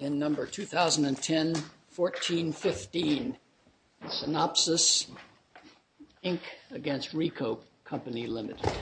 In number 2010-14-15, SYNOPSYS, Inc. against RICOH, Company Limited.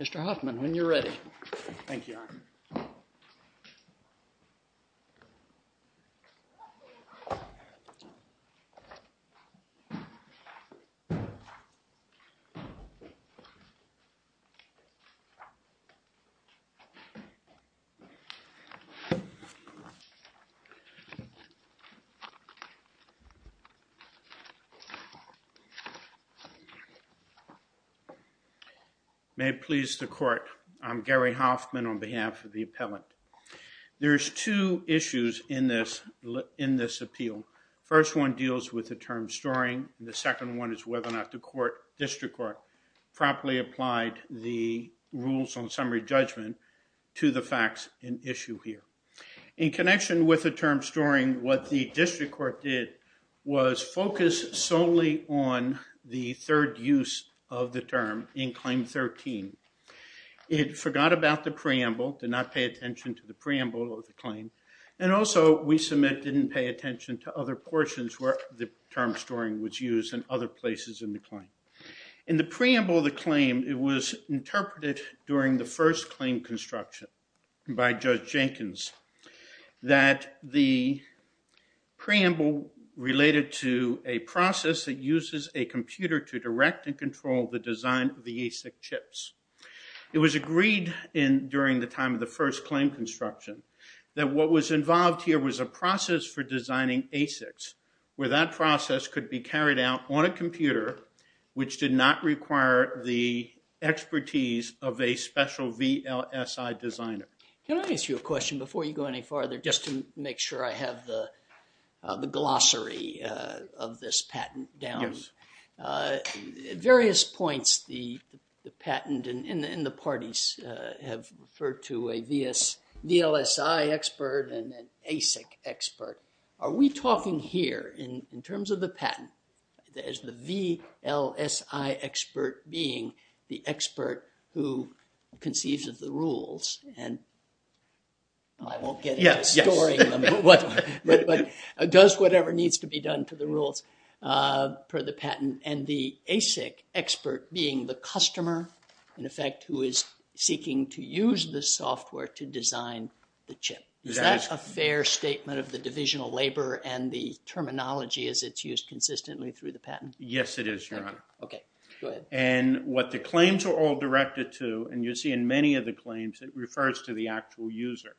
Mr. Hoffman, when you're ready. May it please the court, I'm Gary Hoffman on behalf of the appellant. There's two issues in this, in this appeal. First one deals with the term storing. The second one is whether or not the court, district court, properly applied the rules on summary judgment to the facts in issue here. In connection with the term storing, what the district court did was focus solely on the third use of the term in claim 13. It forgot about the preamble, did not pay attention to the preamble of the claim. And also, we submit, didn't pay attention to other portions where the term storing was used in other places in the claim. In the preamble of the claim, it was interpreted during the first claim construction by Judge Jenkins, that the preamble related to a process that uses a computer to direct and control the design of the ASIC chips. It was agreed in during the time of the first claim construction that what was involved here was a process for designing ASICs, where that process could be carried out on a computer, which did not require the expertise of a special VLSI designer. Can I ask you a question before you go any farther, just to make sure I have the glossary of this patent down? Yes. At various points, the patent and the parties have referred to a VLSI expert and an ASIC expert. Are we talking here, in terms of the patent, as the VLSI expert being the expert who conceives of the rules, and I won't get into storing them, but does whatever needs to be done to the rules per the patent, and the ASIC expert being the customer, in effect, who is seeking to use the software to design the chip? Is that a fair statement of the divisional labor and the terminology as it's used consistently through the patent? Yes, it is, Your Honor. Okay, go ahead. And what the claims are all directed to, and you'll see in many of the claims, it refers to the actual user.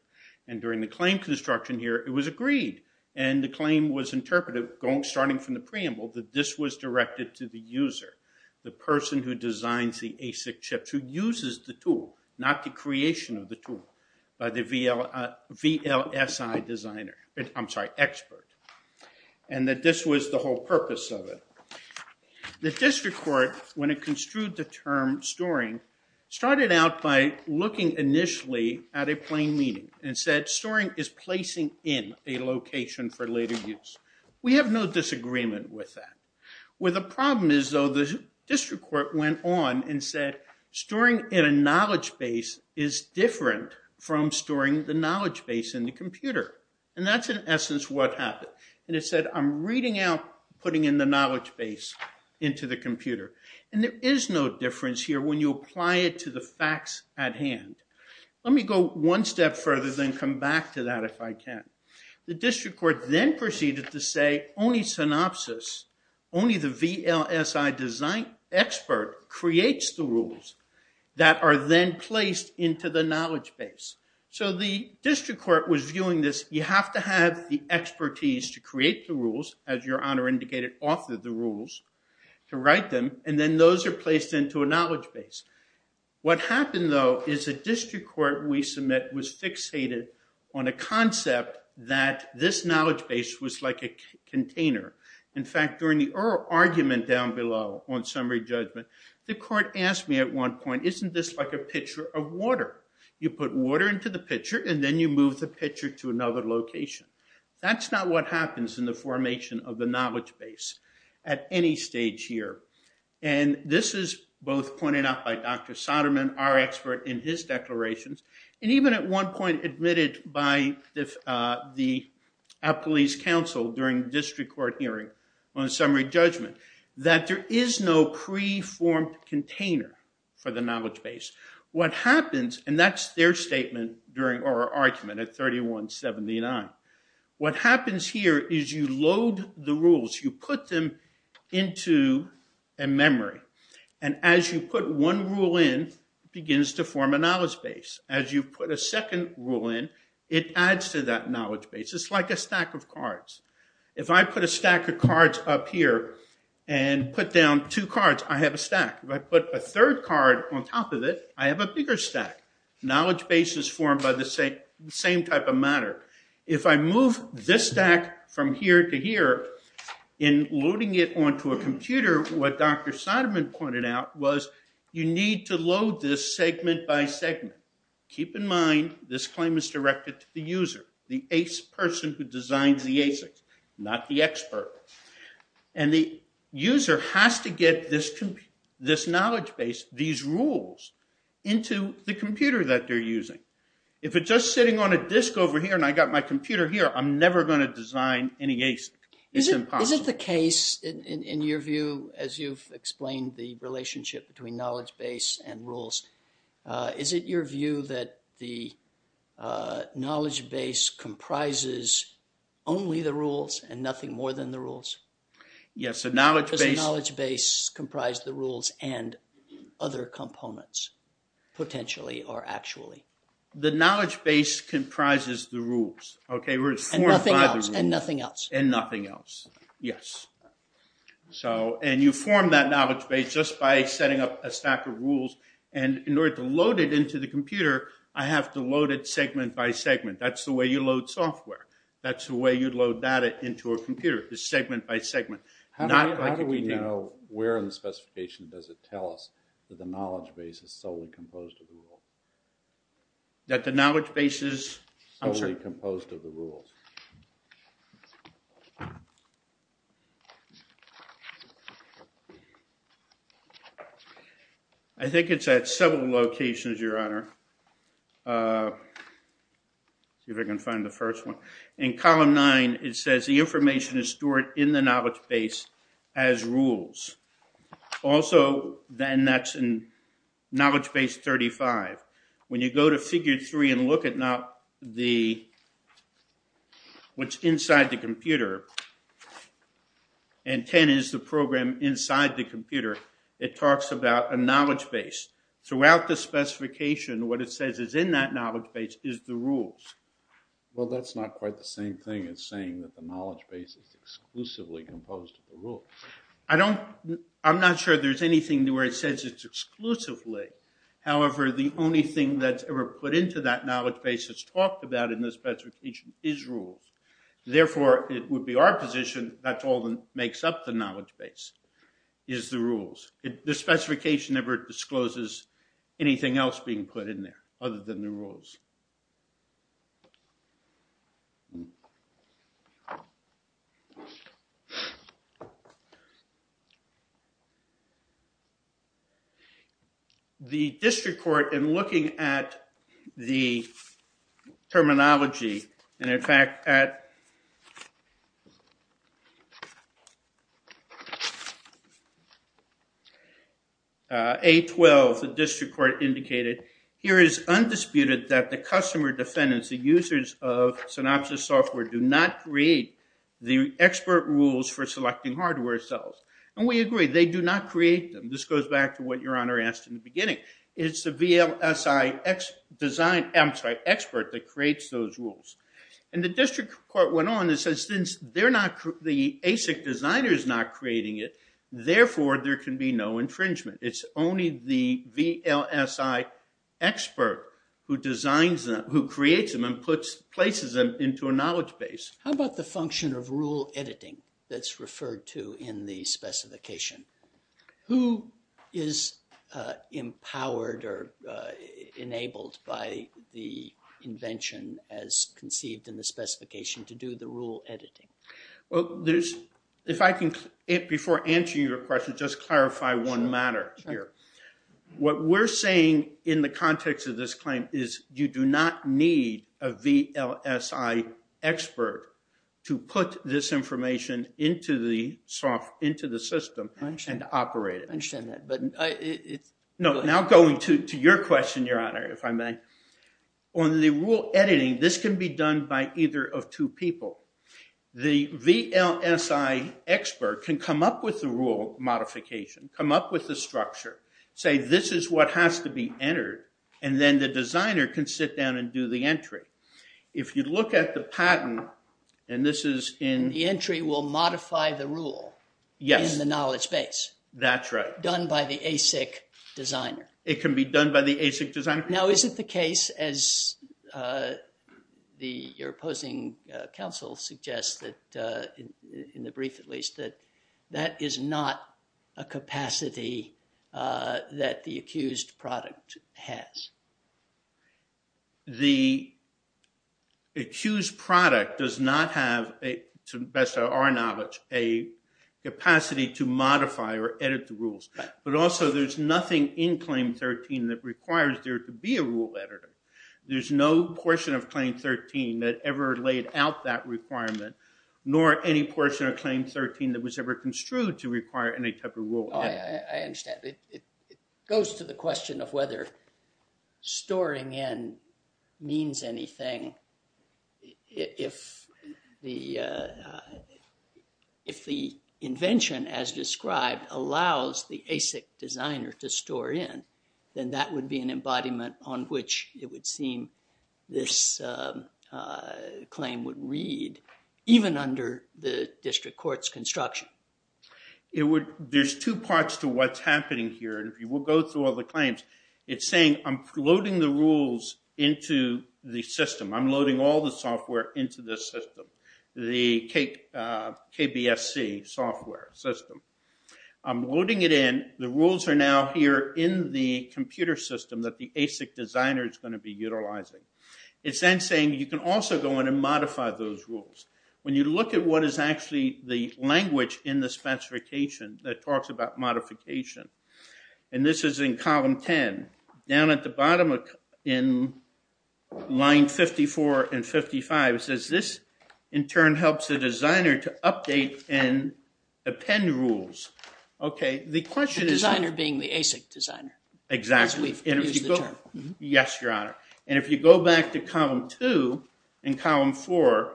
And during the claim construction here, it was agreed, and the claim was interpreted, starting from the preamble, that this was directed to the user, the person who designs the ASIC chips, who uses the tool, not the creation of the tool, by the VLSI designer. I'm sorry, expert. And that this was the whole purpose of it. The district court, when it construed the term storing, started out by looking initially at a plain meaning and said, storing is placing in a location for later use. We have no disagreement with that. Where the problem is, though, the district court went on and said, storing in a knowledge base is different from storing the knowledge base in the computer. And that's, in essence, what happened. And it said, I'm reading out, putting in the knowledge base into the computer. And there is no difference here when you apply it to the facts at hand. Let me go one step further, then come back to that if I can. The district court then proceeded to say, only synopsis, only the VLSI design expert creates the rules that are then placed into the knowledge base. So the district court was viewing this, you have to have the expertise to create the rules, as your honor indicated, author the rules, to write them. And then those are placed into a knowledge base. What happened, though, is the district court we submit was fixated on a concept that this knowledge base was like a container. In fact, during the argument down below on summary judgment, the court asked me at one point, isn't this like a pitcher of water? You put water into the pitcher, and then you move the pitcher to another location. That's not what happens in the formation of the knowledge base at any stage here. And this is both pointed out by Dr. Soderman, our expert in his declarations, and even at one point admitted by our police counsel during the district court hearing on summary judgment, that there is no pre-formed container for the knowledge base. What happens, and that's their statement or argument at 3179, what happens here is you load the rules, you put them into a memory. And as you put one rule in, it begins to form a knowledge base. As you put a second rule in, it adds to that knowledge base. It's like a stack of cards. If I put a stack of cards up here and put down two cards, I have a stack. If I put a third card on top of it, I have a bigger stack. Knowledge base is formed by the same type of matter. If I move this stack from here to here, in loading it onto a computer, what Dr. Soderman pointed out was you need to load this segment by segment. Keep in mind, this claim is directed to the user, the ace person who designs the ASICs, not the expert. And the user has to get this knowledge base, these rules, into the computer that they're using. If it's just sitting on a disk over here and I got my computer here, I'm never going to design any ASIC. It's impossible. Is it the case, in your view, as you've explained the relationship between knowledge base and rules, is it your view that the knowledge base comprises only the rules and nothing more than the rules? Yes, the knowledge base... Does the knowledge base comprise the rules and other components, potentially or actually? The knowledge base comprises the rules. And nothing else. And nothing else, yes. And you form that knowledge base just by setting up a stack of rules. And in order to load it into the computer, I have to load it segment by segment. That's the way you load software. That's the way you load data into a computer, is segment by segment. How do we know where in the specification does it tell us that the knowledge base is solely composed of the rules? That the knowledge base is... I'm sorry. Solely composed of the rules. I think it's at several locations, Your Honor. See if I can find the first one. In column nine, it says the information is stored in the knowledge base as rules. Also, then that's in knowledge base 35. When you go to figure three and look at what's inside the computer, and 10 is the program inside the computer, it talks about a knowledge base. Throughout the specification, what it says is in that knowledge base is the rules. Well, that's not quite the same thing. It's saying that the knowledge base is exclusively composed of the rules. I'm not sure there's anything where it says it's exclusively. However, the only thing that's ever put into that knowledge base that's talked about in the specification is rules. Therefore, it would be our position that's all that makes up the knowledge base is the rules. The specification never discloses anything else being put in there other than the rules. The district court, in looking at the terminology, and in fact, at... A12, the district court indicated, here is undisputed that the customer defendants, the users of Synopsys software, do not create the expert rules for selecting hardware. And we agree, they do not create them. This goes back to what Your Honor asked in the beginning. It's the VLSI expert that creates those rules. And the district court went on and says since the ASIC designer is not creating it, therefore, there can be no infringement. It's only the VLSI expert who creates them and places them into a knowledge base. How about the function of rule editing that's referred to in the specification? Who is empowered or enabled by the invention as conceived in the specification to do the rule editing? If I can, before answering your question, just clarify one matter here. What we're saying in the context of this claim is you do not need a VLSI expert to put this information into the system and operate it. Now going to your question, Your Honor, if I may. On the rule editing, this can be done by either of two people. The VLSI expert can come up with the rule modification, come up with the structure, say this is what has to be entered, and then the designer can sit down and do the entry. If you look at the patent, and this is in... The entry will modify the rule in the knowledge base. That's right. Done by the ASIC designer. It can be done by the ASIC designer. Now is it the case, as your opposing counsel suggests, in the brief at least, that that is not a capacity that the accused product has? The accused product does not have, to the best of our knowledge, a capacity to modify or edit the rules. But also there's nothing in Claim 13 that requires there to be a rule editor. There's no portion of Claim 13 that ever laid out that requirement, nor any portion of Claim 13 that was ever construed to require any type of rule editor. I understand. It goes to the question of whether storing in means anything. If the invention, as described, allows the ASIC designer to store in, then that would be an embodiment on which it would seem this claim would read, even under the district court's construction. There's two parts to what's happening here. We'll go through all the claims. It's saying I'm loading the rules into the system. I'm loading all the software into this system, the KBSC software system. I'm loading it in. The rules are now here in the computer system that the ASIC designer is going to be utilizing. It's then saying you can also go in and modify those rules. When you look at what is actually the language in the specification that talks about modification, and this is in column 10, down at the bottom in line 54 and 55, it says this in turn helps the designer to update and append rules. Okay, the question is... The designer being the ASIC designer. Exactly. Yes, Your Honor. And if you go back to column 2 and column 4,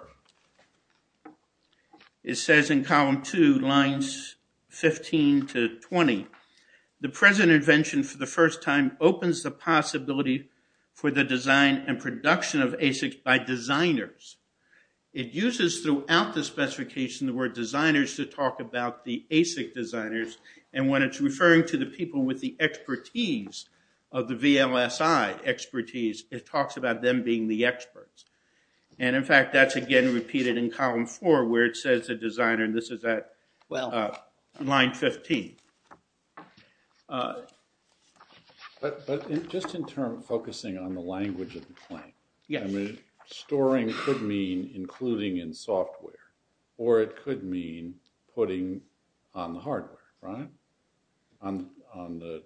it says in column 2, lines 15 to 20, the present invention for the first time opens the possibility for the design and production of ASIC by designers. It uses throughout the specification the word designers to talk about the ASIC designers, and when it's referring to the people with the expertise of the VLSI expertise, it talks about them being the experts. And, in fact, that's, again, repeated in column 4, where it says the designer, and this is at line 15. But just in turn, focusing on the language of the claim. Yes. Storing could mean including in software, or it could mean putting on the hardware, right? On the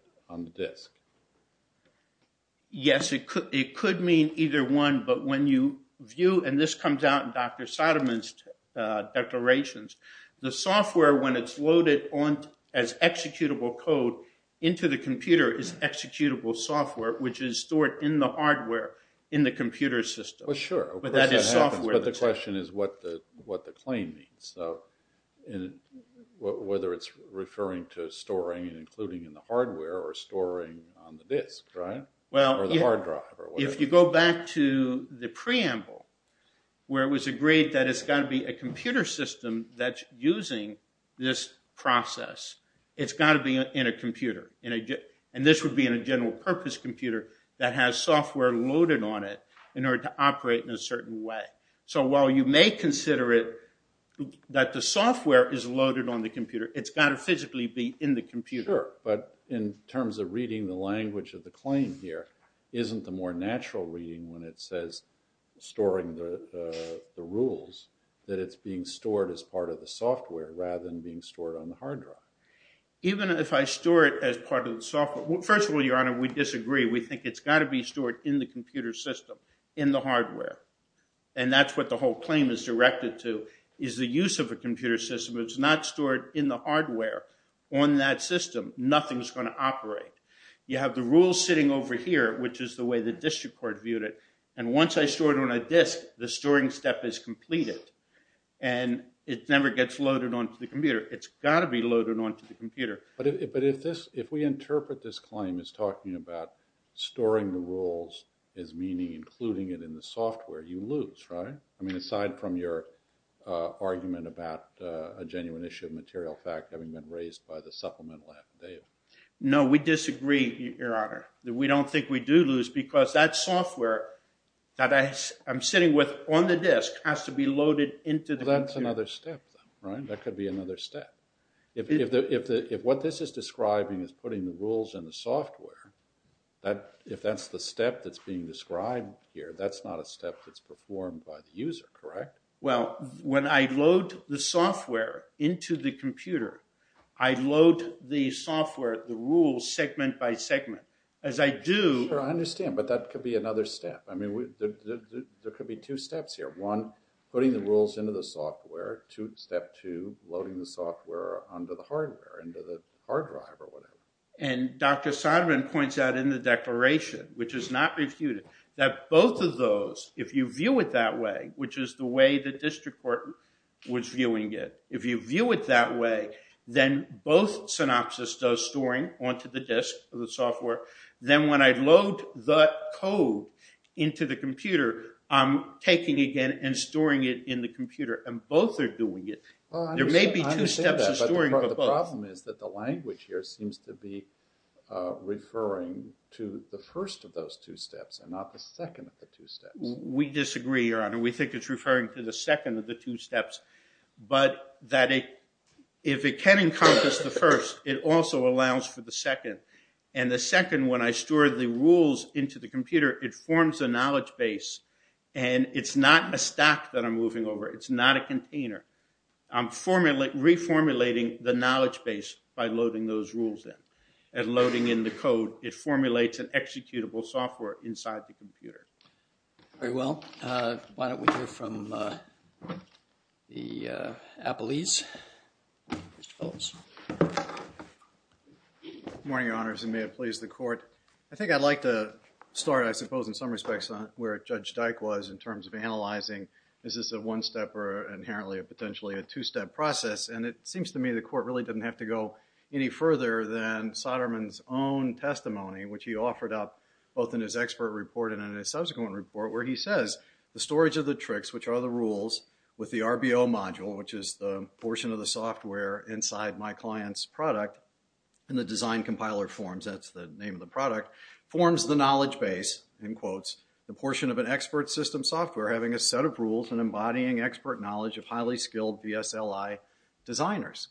disk. Yes, it could mean either one, but when you view, and this comes out in Dr. Soderman's declarations, the software, when it's loaded as executable code into the computer, is executable software, which is stored in the hardware in the computer system. Well, sure. But that is software. But the question is what the claim means, whether it's referring to storing and including in the hardware or storing on the disk, right? Well, if you go back to the preamble, where it was agreed that it's got to be a computer system that's using this process, it's got to be in a computer, and this would be in a general purpose computer that has software loaded on it in order to operate in a certain way. So while you may consider it that the software is loaded on the computer, it's got to physically be in the computer. Sure. But in terms of reading the language of the claim here, isn't the more natural reading when it says storing the rules that it's being stored as part of the software rather than being stored on the hard drive? Even if I store it as part of the software, first of all, Your Honor, we disagree. We think it's got to be stored in the computer system, in the hardware, and that's what the whole claim is directed to is the use of a computer system. If it's not stored in the hardware on that system, nothing's going to operate. You have the rules sitting over here, which is the way the district court viewed it, and once I store it on a disk, the storing step is completed, and it never gets loaded onto the computer. It's got to be loaded onto the computer. But if we interpret this claim as talking about storing the rules as meaning including it in the software, you lose, right? I mean, aside from your argument about a genuine issue of material fact having been raised by the supplemental affidavit. No, we disagree, Your Honor. We don't think we do lose because that software that I'm sitting with on the disk has to be loaded into the computer. Well, that's another step then, right? That could be another step. If what this is describing is putting the rules in the software, if that's the step that's being described here, that's not a step that's performed by the user, correct? Well, when I load the software into the computer, I load the software, the rules, segment by segment. As I do— Sure, I understand, but that could be another step. I mean, there could be two steps here. One, putting the rules into the software. Step two, loading the software onto the hardware, into the hard drive or whatever. And Dr. Soderman points out in the declaration, which is not refuted, that both of those, if you view it that way, which is the way the district court was viewing it, if you view it that way, then both synopsis does storing onto the disk of the software. Then when I load the code into the computer, I'm taking again and storing it in the computer. And both are doing it. There may be two steps of storing, but both. The problem is that the language here seems to be referring to the first of those two steps and not the second of the two steps. We disagree, Your Honor. We think it's referring to the second of the two steps. But that if it can encompass the first, it also allows for the second. And the second, when I store the rules into the computer, it forms a knowledge base and it's not a stack that I'm moving over. It's not a container. I'm reformulating the knowledge base by loading those rules in. And loading in the code, it formulates an executable software inside the computer. Very well. Why don't we hear from the appellees. Mr. Phillips. Good morning, Your Honors, and may it please the Court. I think I'd like to start, I suppose, in some respects, where Judge Dyke was in terms of analyzing is this a one-step or inherently potentially a two-step process. And it seems to me the Court really didn't have to go any further than Soderman's own testimony, which he offered up both in his expert report and in his subsequent report, where he says the storage of the tricks, which are the rules, with the RBO module, which is the portion of the software inside my client's product, in the design compiler forms, that's the name of the product, forms the knowledge base, in quotes, the portion of an expert system software having a set of rules and embodying expert knowledge of highly skilled VSLI designers.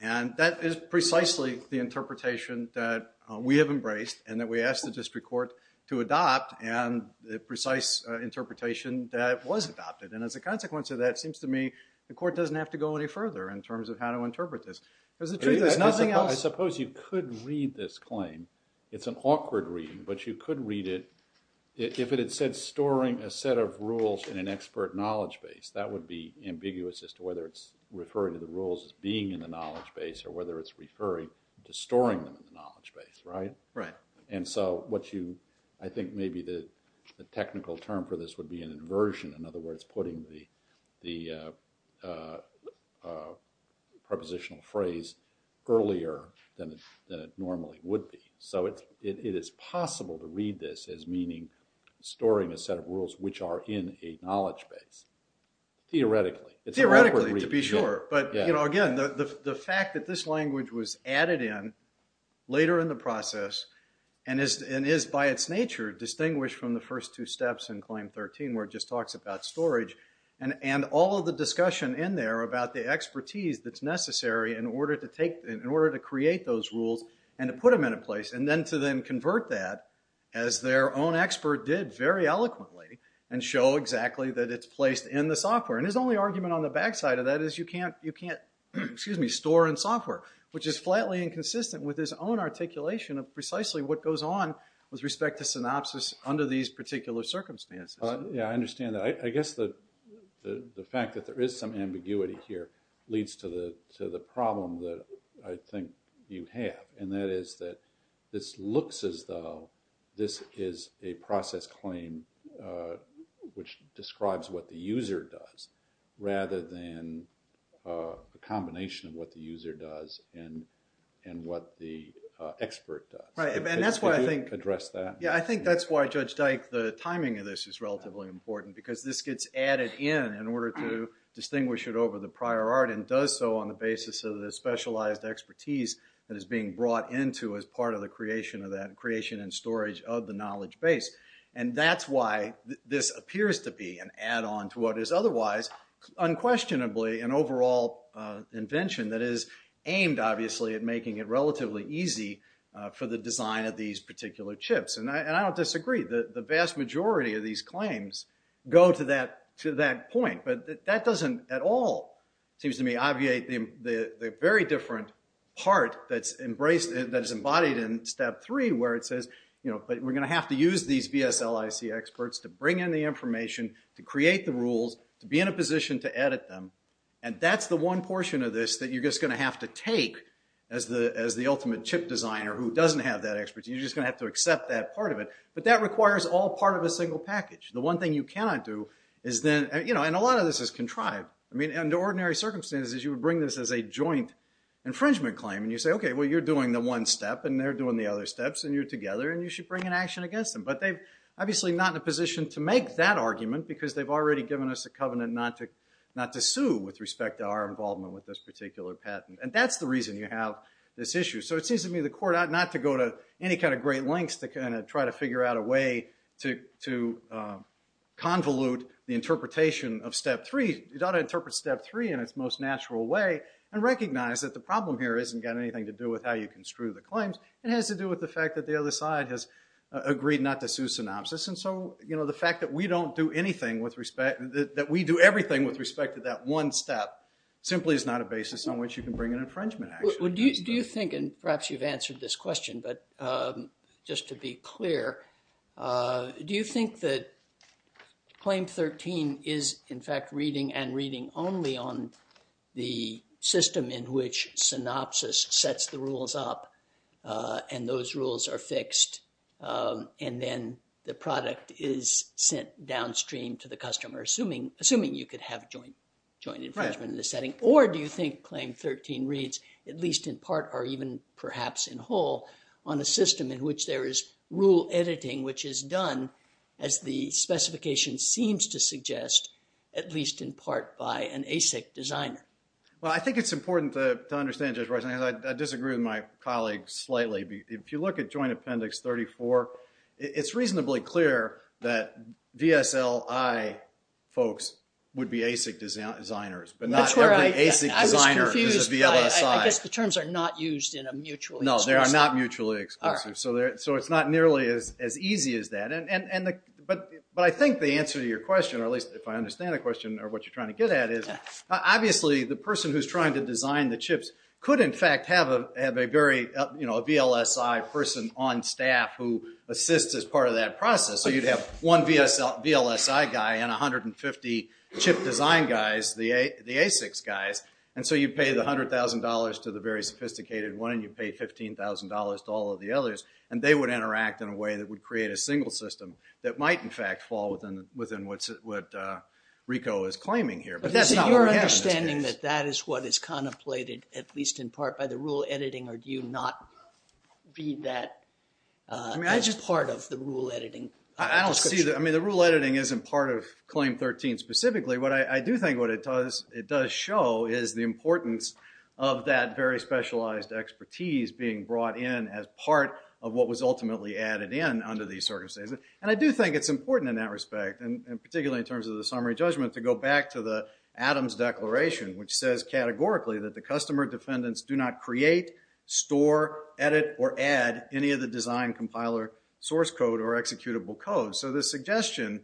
And that is precisely the interpretation that we have embraced and that we asked the District Court to adopt and the precise interpretation that was adopted. And as a consequence of that, it seems to me the Court doesn't have to go any further in terms of how to interpret this. I suppose you could read this claim. It's an awkward reading, but you could read it. If it had said storing a set of rules in an expert knowledge base, that would be ambiguous as to whether it's referring to the rules as being in the knowledge base or whether it's referring to storing them in the knowledge base, right? And so what you, I think maybe the technical term for this would be an inversion. In other words, putting the prepositional phrase earlier than it normally would be. So it is possible to read this as meaning storing a set of rules which are in a knowledge base. Theoretically, it's an awkward reading. Theoretically, to be sure, but again, the fact that this language was added in later in the process and is by its nature distinguished from the first two steps in Claim 13 where it just talks about storage and all of the discussion in there about the expertise that's necessary in order to create those rules and to put them into place and then to then convert that as their own expert did very eloquently and show exactly that it's placed in the software. And his only argument on the backside of that is you can't store in software, which is flatly inconsistent with his own articulation of precisely what goes on with respect to synopsis under these particular circumstances. Yeah, I understand that. I guess the fact that there is some ambiguity here leads to the problem that I think you have, and that is that this looks as though this is a process claim which describes what the user does rather than a combination of what the user does and what the expert does. Yeah, I think that's why, Judge Dyke, the timing of this is relatively important because this gets added in in order to distinguish it over the prior art and does so on the basis of the specialized expertise that is being brought into as part of the creation and storage of the knowledge base. And that's why this appears to be an add-on to what is otherwise unquestionably an overall invention that is aimed, obviously, at making it relatively easy for the design of these particular chips. And I don't disagree. The vast majority of these claims go to that point. But that doesn't at all, it seems to me, obviate the very different part that is embodied in Step 3 where it says, you know, we're going to have to use these BSLIC experts to bring in the information, to create the rules, to be in a position to edit them. And that's the one portion of this that you're just going to have to take as the ultimate chip designer who doesn't have that expertise. You're just going to have to accept that part of it. But that requires all part of a single package. The one thing you cannot do is then, you know, and a lot of this is contrived. I mean, under ordinary circumstances, you would bring this as a joint infringement claim. And you say, okay, well, you're doing the one step and they're doing the other steps and you're together and you should bring an action against them. But they're obviously not in a position to make that argument because they've already given us a covenant not to sue with respect to our involvement with this particular patent. And that's the reason you have this issue. So it seems to me the court ought not to go to any kind of great lengths to kind of try to figure out a way to convolute the interpretation of Step 3. It ought to interpret Step 3 in its most natural way and recognize that the problem here hasn't got anything to do with how you construe the claims. It has to do with the fact that the other side has agreed not to sue synopsis. And so, you know, the fact that we don't do anything with respect – that we do everything with respect to that one step simply is not a basis on which you can bring an infringement action. Do you think – and perhaps you've answered this question, but just to be clear – do you think that Claim 13 is, in fact, reading and reading only on the system in which synopsis sets the rules up and those rules are fixed and then the product is sent downstream to the customer assuming you could have joint infringement in the setting? Or do you think Claim 13 reads, at least in part or even perhaps in whole, on a system in which there is rule editing which is done, as the specification seems to suggest, at least in part by an ASIC designer? Well, I think it's important to understand, Judge Reisner, because I disagree with my colleague slightly. If you look at Joint Appendix 34, it's reasonably clear that VSLI folks would be ASIC designers, but not every ASIC designer is a VLSI. I guess the terms are not used in a mutually exclusive – No, they are not mutually exclusive. So it's not nearly as easy as that. But I think the answer to your question, or at least if I understand the question or what you're trying to get at, is obviously the person who's trying to design the chips could in fact have a VLSI person on staff who assists as part of that process. So you'd have one VLSI guy and 150 chip design guys, the ASICs guys, and so you'd pay the $100,000 to the very sophisticated one and you'd pay $15,000 to all of the others, and they would interact in a way that would create a single system that might in fact fall within what RICO is claiming here. So you're understanding that that is what is contemplated at least in part by the rule editing or do you not read that as part of the rule editing? I don't see that. I mean the rule editing isn't part of Claim 13 specifically, but I do think what it does show is the importance of that very specialized expertise being brought in as part of what was ultimately added in under these circumstances. And I do think it's important in that respect, and particularly in terms of the summary judgment, to go back to the Adams Declaration, which says categorically that the customer defendants do not create, store, edit, or add any of the design compiler source code or executable code. So the suggestion,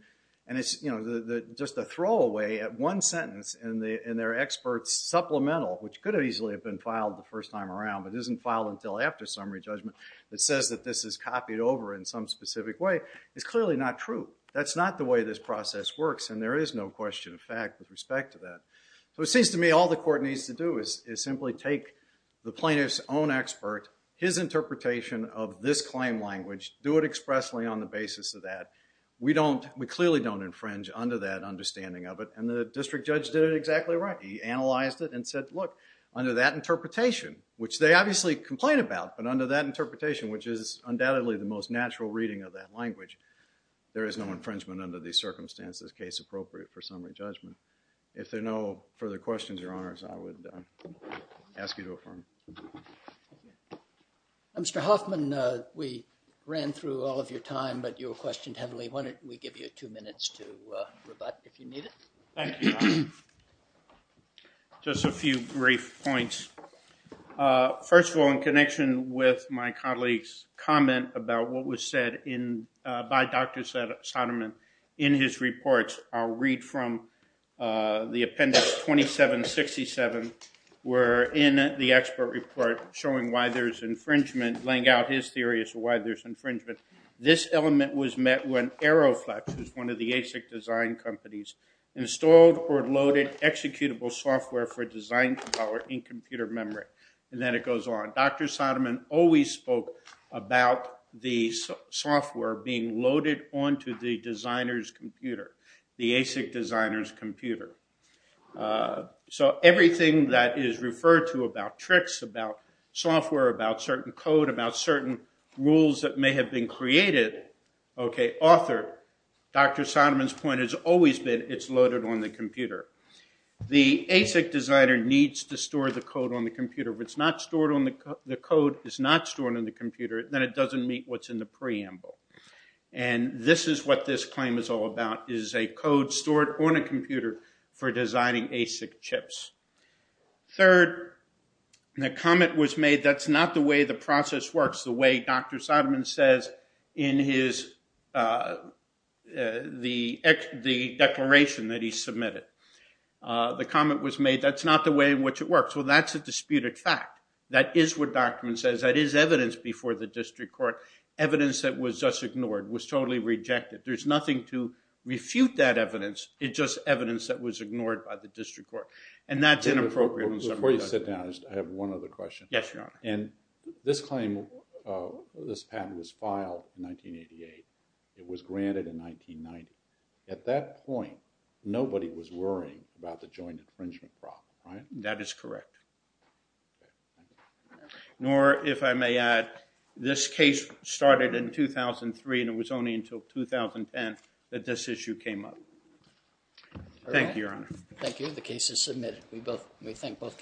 and it's just a throwaway at one sentence, and they're experts supplemental, which could have easily been filed the first time around, but isn't filed until after summary judgment, that says that this is copied over in some specific way is clearly not true. That's not the way this process works, and there is no question of fact with respect to that. So it seems to me all the court needs to do is simply take the plaintiff's own expert, his interpretation of this claim language, do it expressly on the basis of that. We clearly don't infringe under that understanding of it, and the district judge did it exactly right. He analyzed it and said, look, under that interpretation, which they obviously complain about, but under that interpretation, which is undoubtedly the most natural reading of that language, there is no infringement under these circumstances, case appropriate for summary judgment. If there are no further questions, Your Honors, I would ask you to affirm. Mr. Hoffman, we ran through all of your time, but you were questioned heavily. Why don't we give you two minutes to rebut if you need it? Thank you, Your Honor. Just a few brief points. First of all, in connection with my colleague's comment about what was said by Dr. Soderman in his reports, I'll read from the appendix 2767, where in the expert report showing why there's infringement, laying out his theory as to why there's infringement, this element was met when Aeroflex, which is one of the ASIC design companies, installed or loaded executable software for design power in computer memory. And then it goes on. Dr. Soderman always spoke about the software being loaded onto the designer's computer, the ASIC designer's computer. So everything that is referred to about tricks, about software, about certain code, about certain rules that may have been created, authored, Dr. Soderman's point has always been it's loaded on the computer. The ASIC designer needs to store the code on the computer. If the code is not stored on the computer, then it doesn't meet what's in the preamble. And this is what this claim is all about, is a code stored on a computer for designing ASIC chips. Third, the comment was made that's not the way the process works, the way Dr. Soderman says in the declaration that he submitted. The comment was made that's not the way in which it works. Well, that's a disputed fact. That is what Dr. Soderman says. That is evidence before the district court, evidence that was just ignored, was totally rejected. There's nothing to refute that evidence. It's just evidence that was ignored by the district court. And that's inappropriate. Before you sit down, I have one other question. Yes, Your Honor. And this claim, this patent was filed in 1988. It was granted in 1990. At that point, nobody was worrying about the joint infringement problem, right? That is correct. Nor, if I may add, this case started in 2003, and it was only until 2010 that this issue came up. Thank you, Your Honor. Thank you. The case is submitted. We thank both parties.